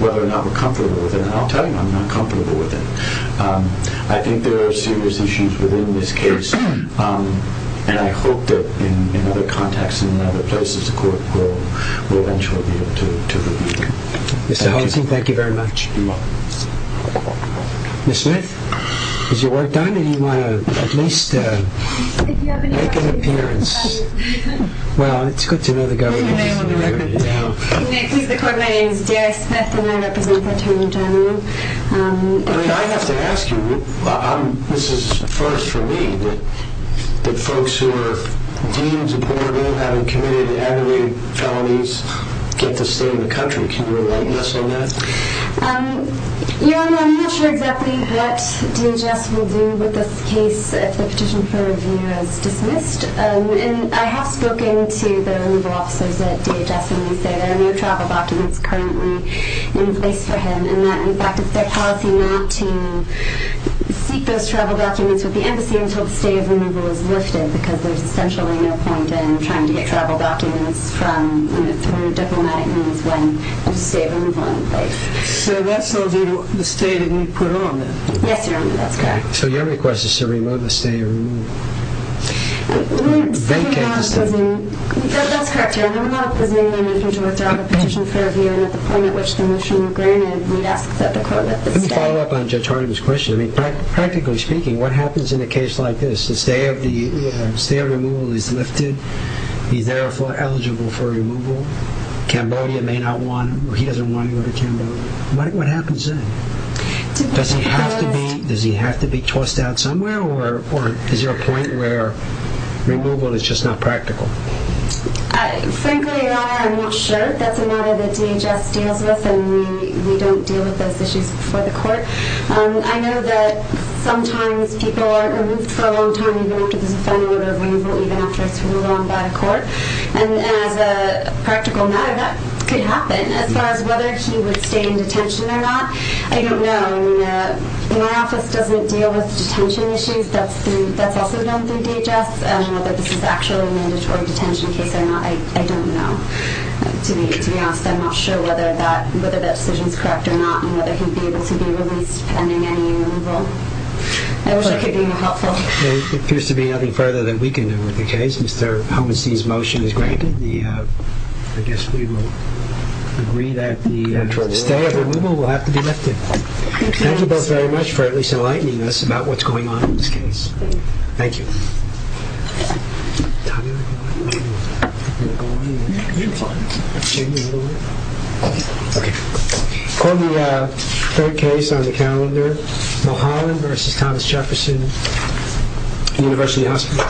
whether or not we're comfortable with it. And I'll tell you I'm not comfortable with it. I think there are serious issues within this case and I hope that in other contexts and other places the court will eventually be able to review. Mr. Halsey, thank you very much. You're welcome. Ms. Smith, is your work done or do you want to at least make an appearance? Well, it's good to know the government is on the record. My name is Gary Smith and I represent the Attorney General. I have to ask you, this is first for me, but the folks who are deemed to have committed aggravated felonies get the state of the country. Do you want to address that? Yeah, I'm here exactly to get the DHS to review this case that the petition for review has dismissed. And I have spoken to the legal officers at DHS and they say there are no travel documents currently in place for him. And that in fact is their policy not to keep those travel documents with the embassy until the state of removal is lifted because there's essentially no point in trying to get travel documents from the state of removal in place. So that's the state that we put on there? Yes, Your Honor. So your request is to remove the state of removal? Let me follow up on Judge Harney's question. Practically speaking, what happens in a case like this? Is there removal is lifted? Is he therefore eligible for removal? Cambodia may not want him or he doesn't want him out of Cambodia. What happens then? Does he have to be tossed out somewhere? Or is there a point where removal is just not practical? Frankly, Your Honor, I'm not sure that's a matter that DHS deals with and we don't deal with those issues before the court. I know that sometimes people are removed for a long time and they don't have to be removed again. I don't know. My office doesn't deal with detention issues. That's also done through DHS. I don't know. I'm not sure whether that decision is correct or not and whether he will be able to be released pending any removal. It appears to be nothing further than we can do with the case. I guess we will agree that the state of removal will have to be lifted. Thank you both very much for at least enlightening us about what's going on in this case. Thank you. According to the third case on the calendar, O'Halloran v. Thomas Jefferson University Hospital.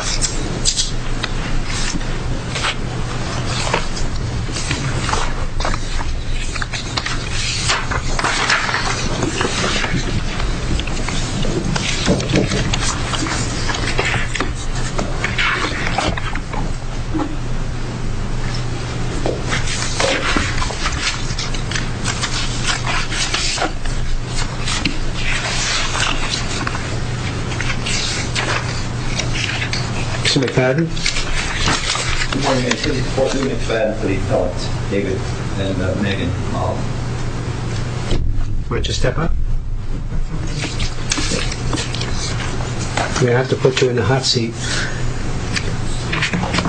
We have to put you in the hot seat. Good Honors. concern about the state of O'Halloran. The state of O'Halloran is a state that has a very well argued case. I take the case under advice. Thank you. Thank you. With the you. Thank you. Thank you. Thank you. Thank you. Thank you. Thank you. Thank you. you. Thank you. Thank you. Thank you. Thank you. Thank you. Thank you. Thank you. Thank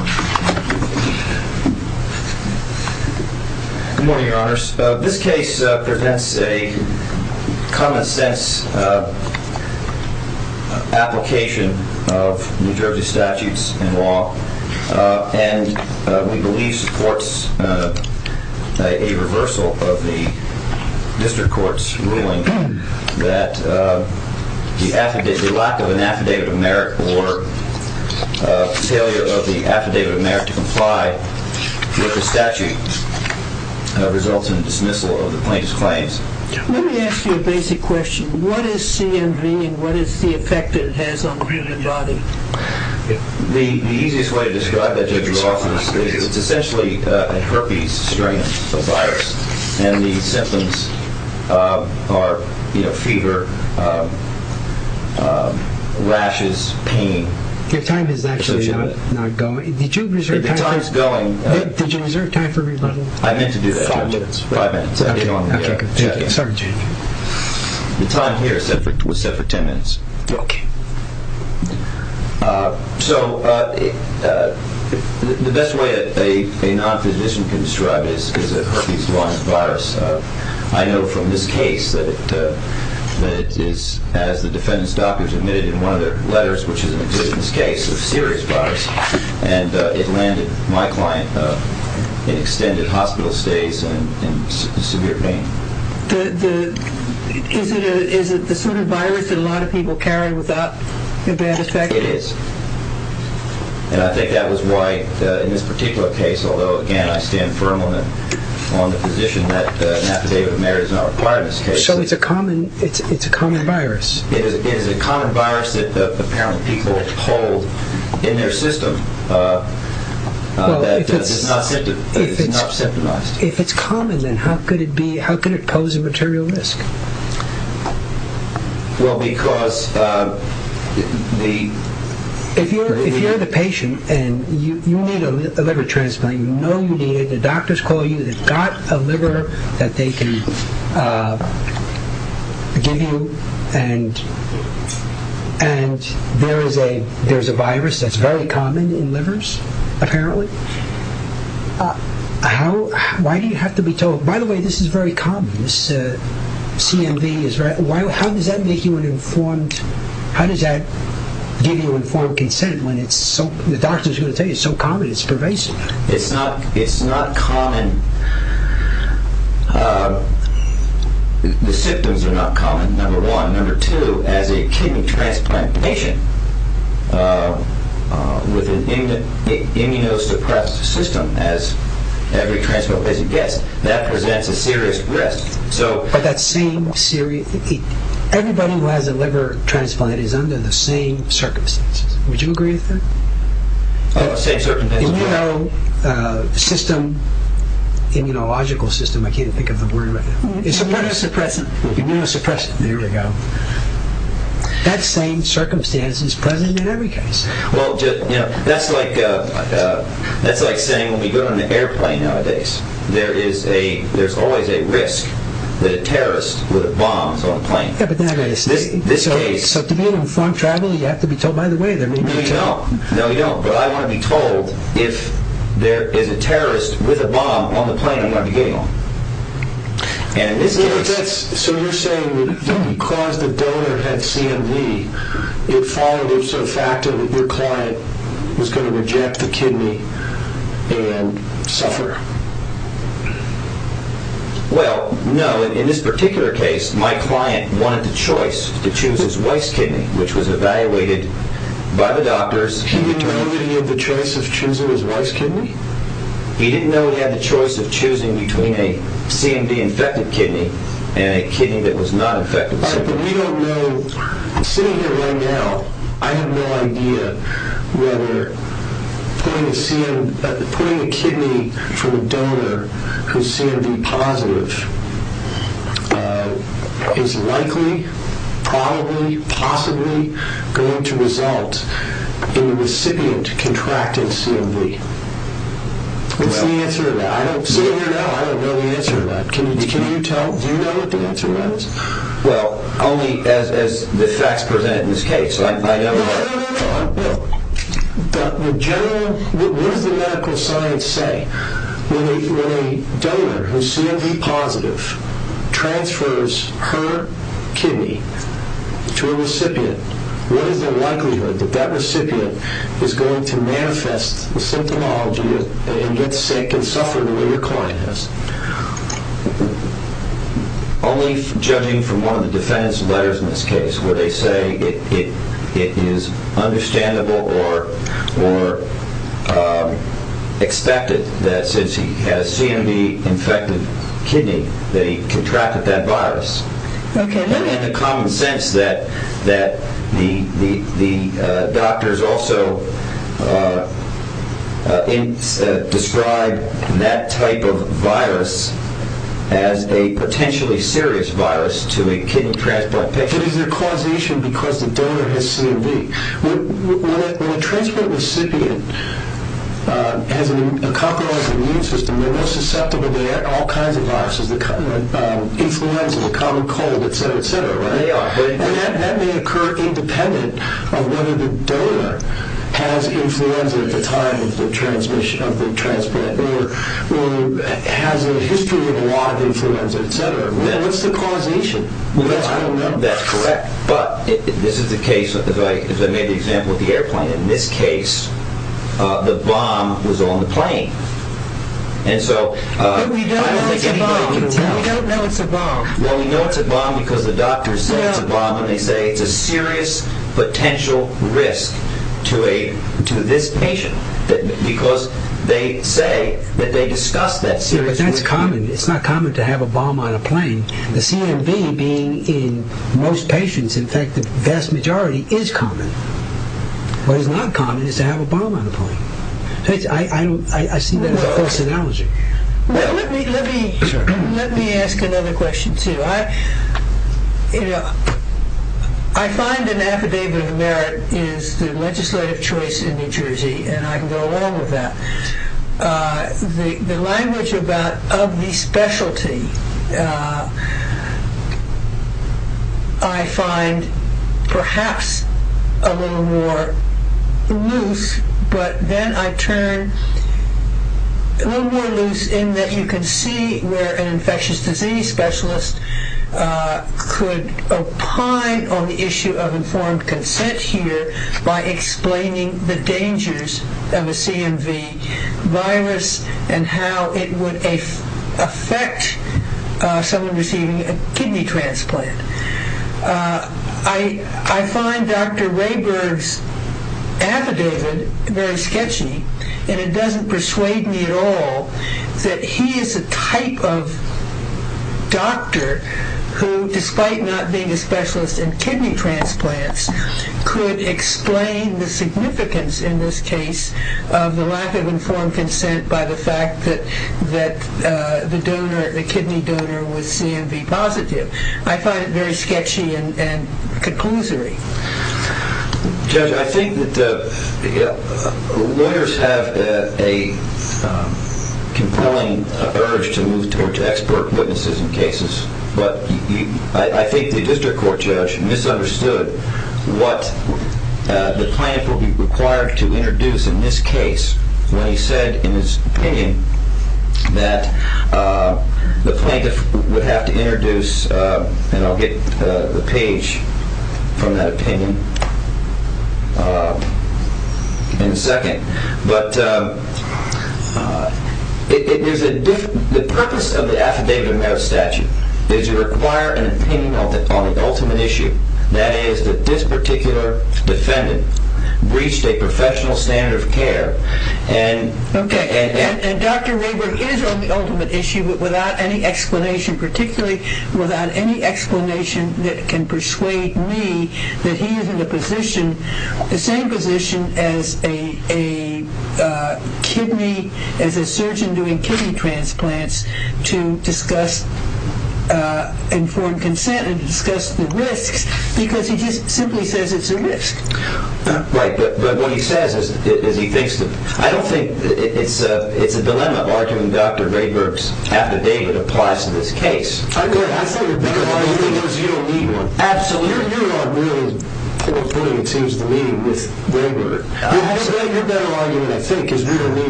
you.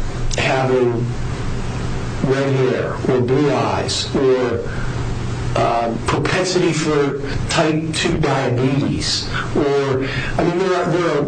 Thank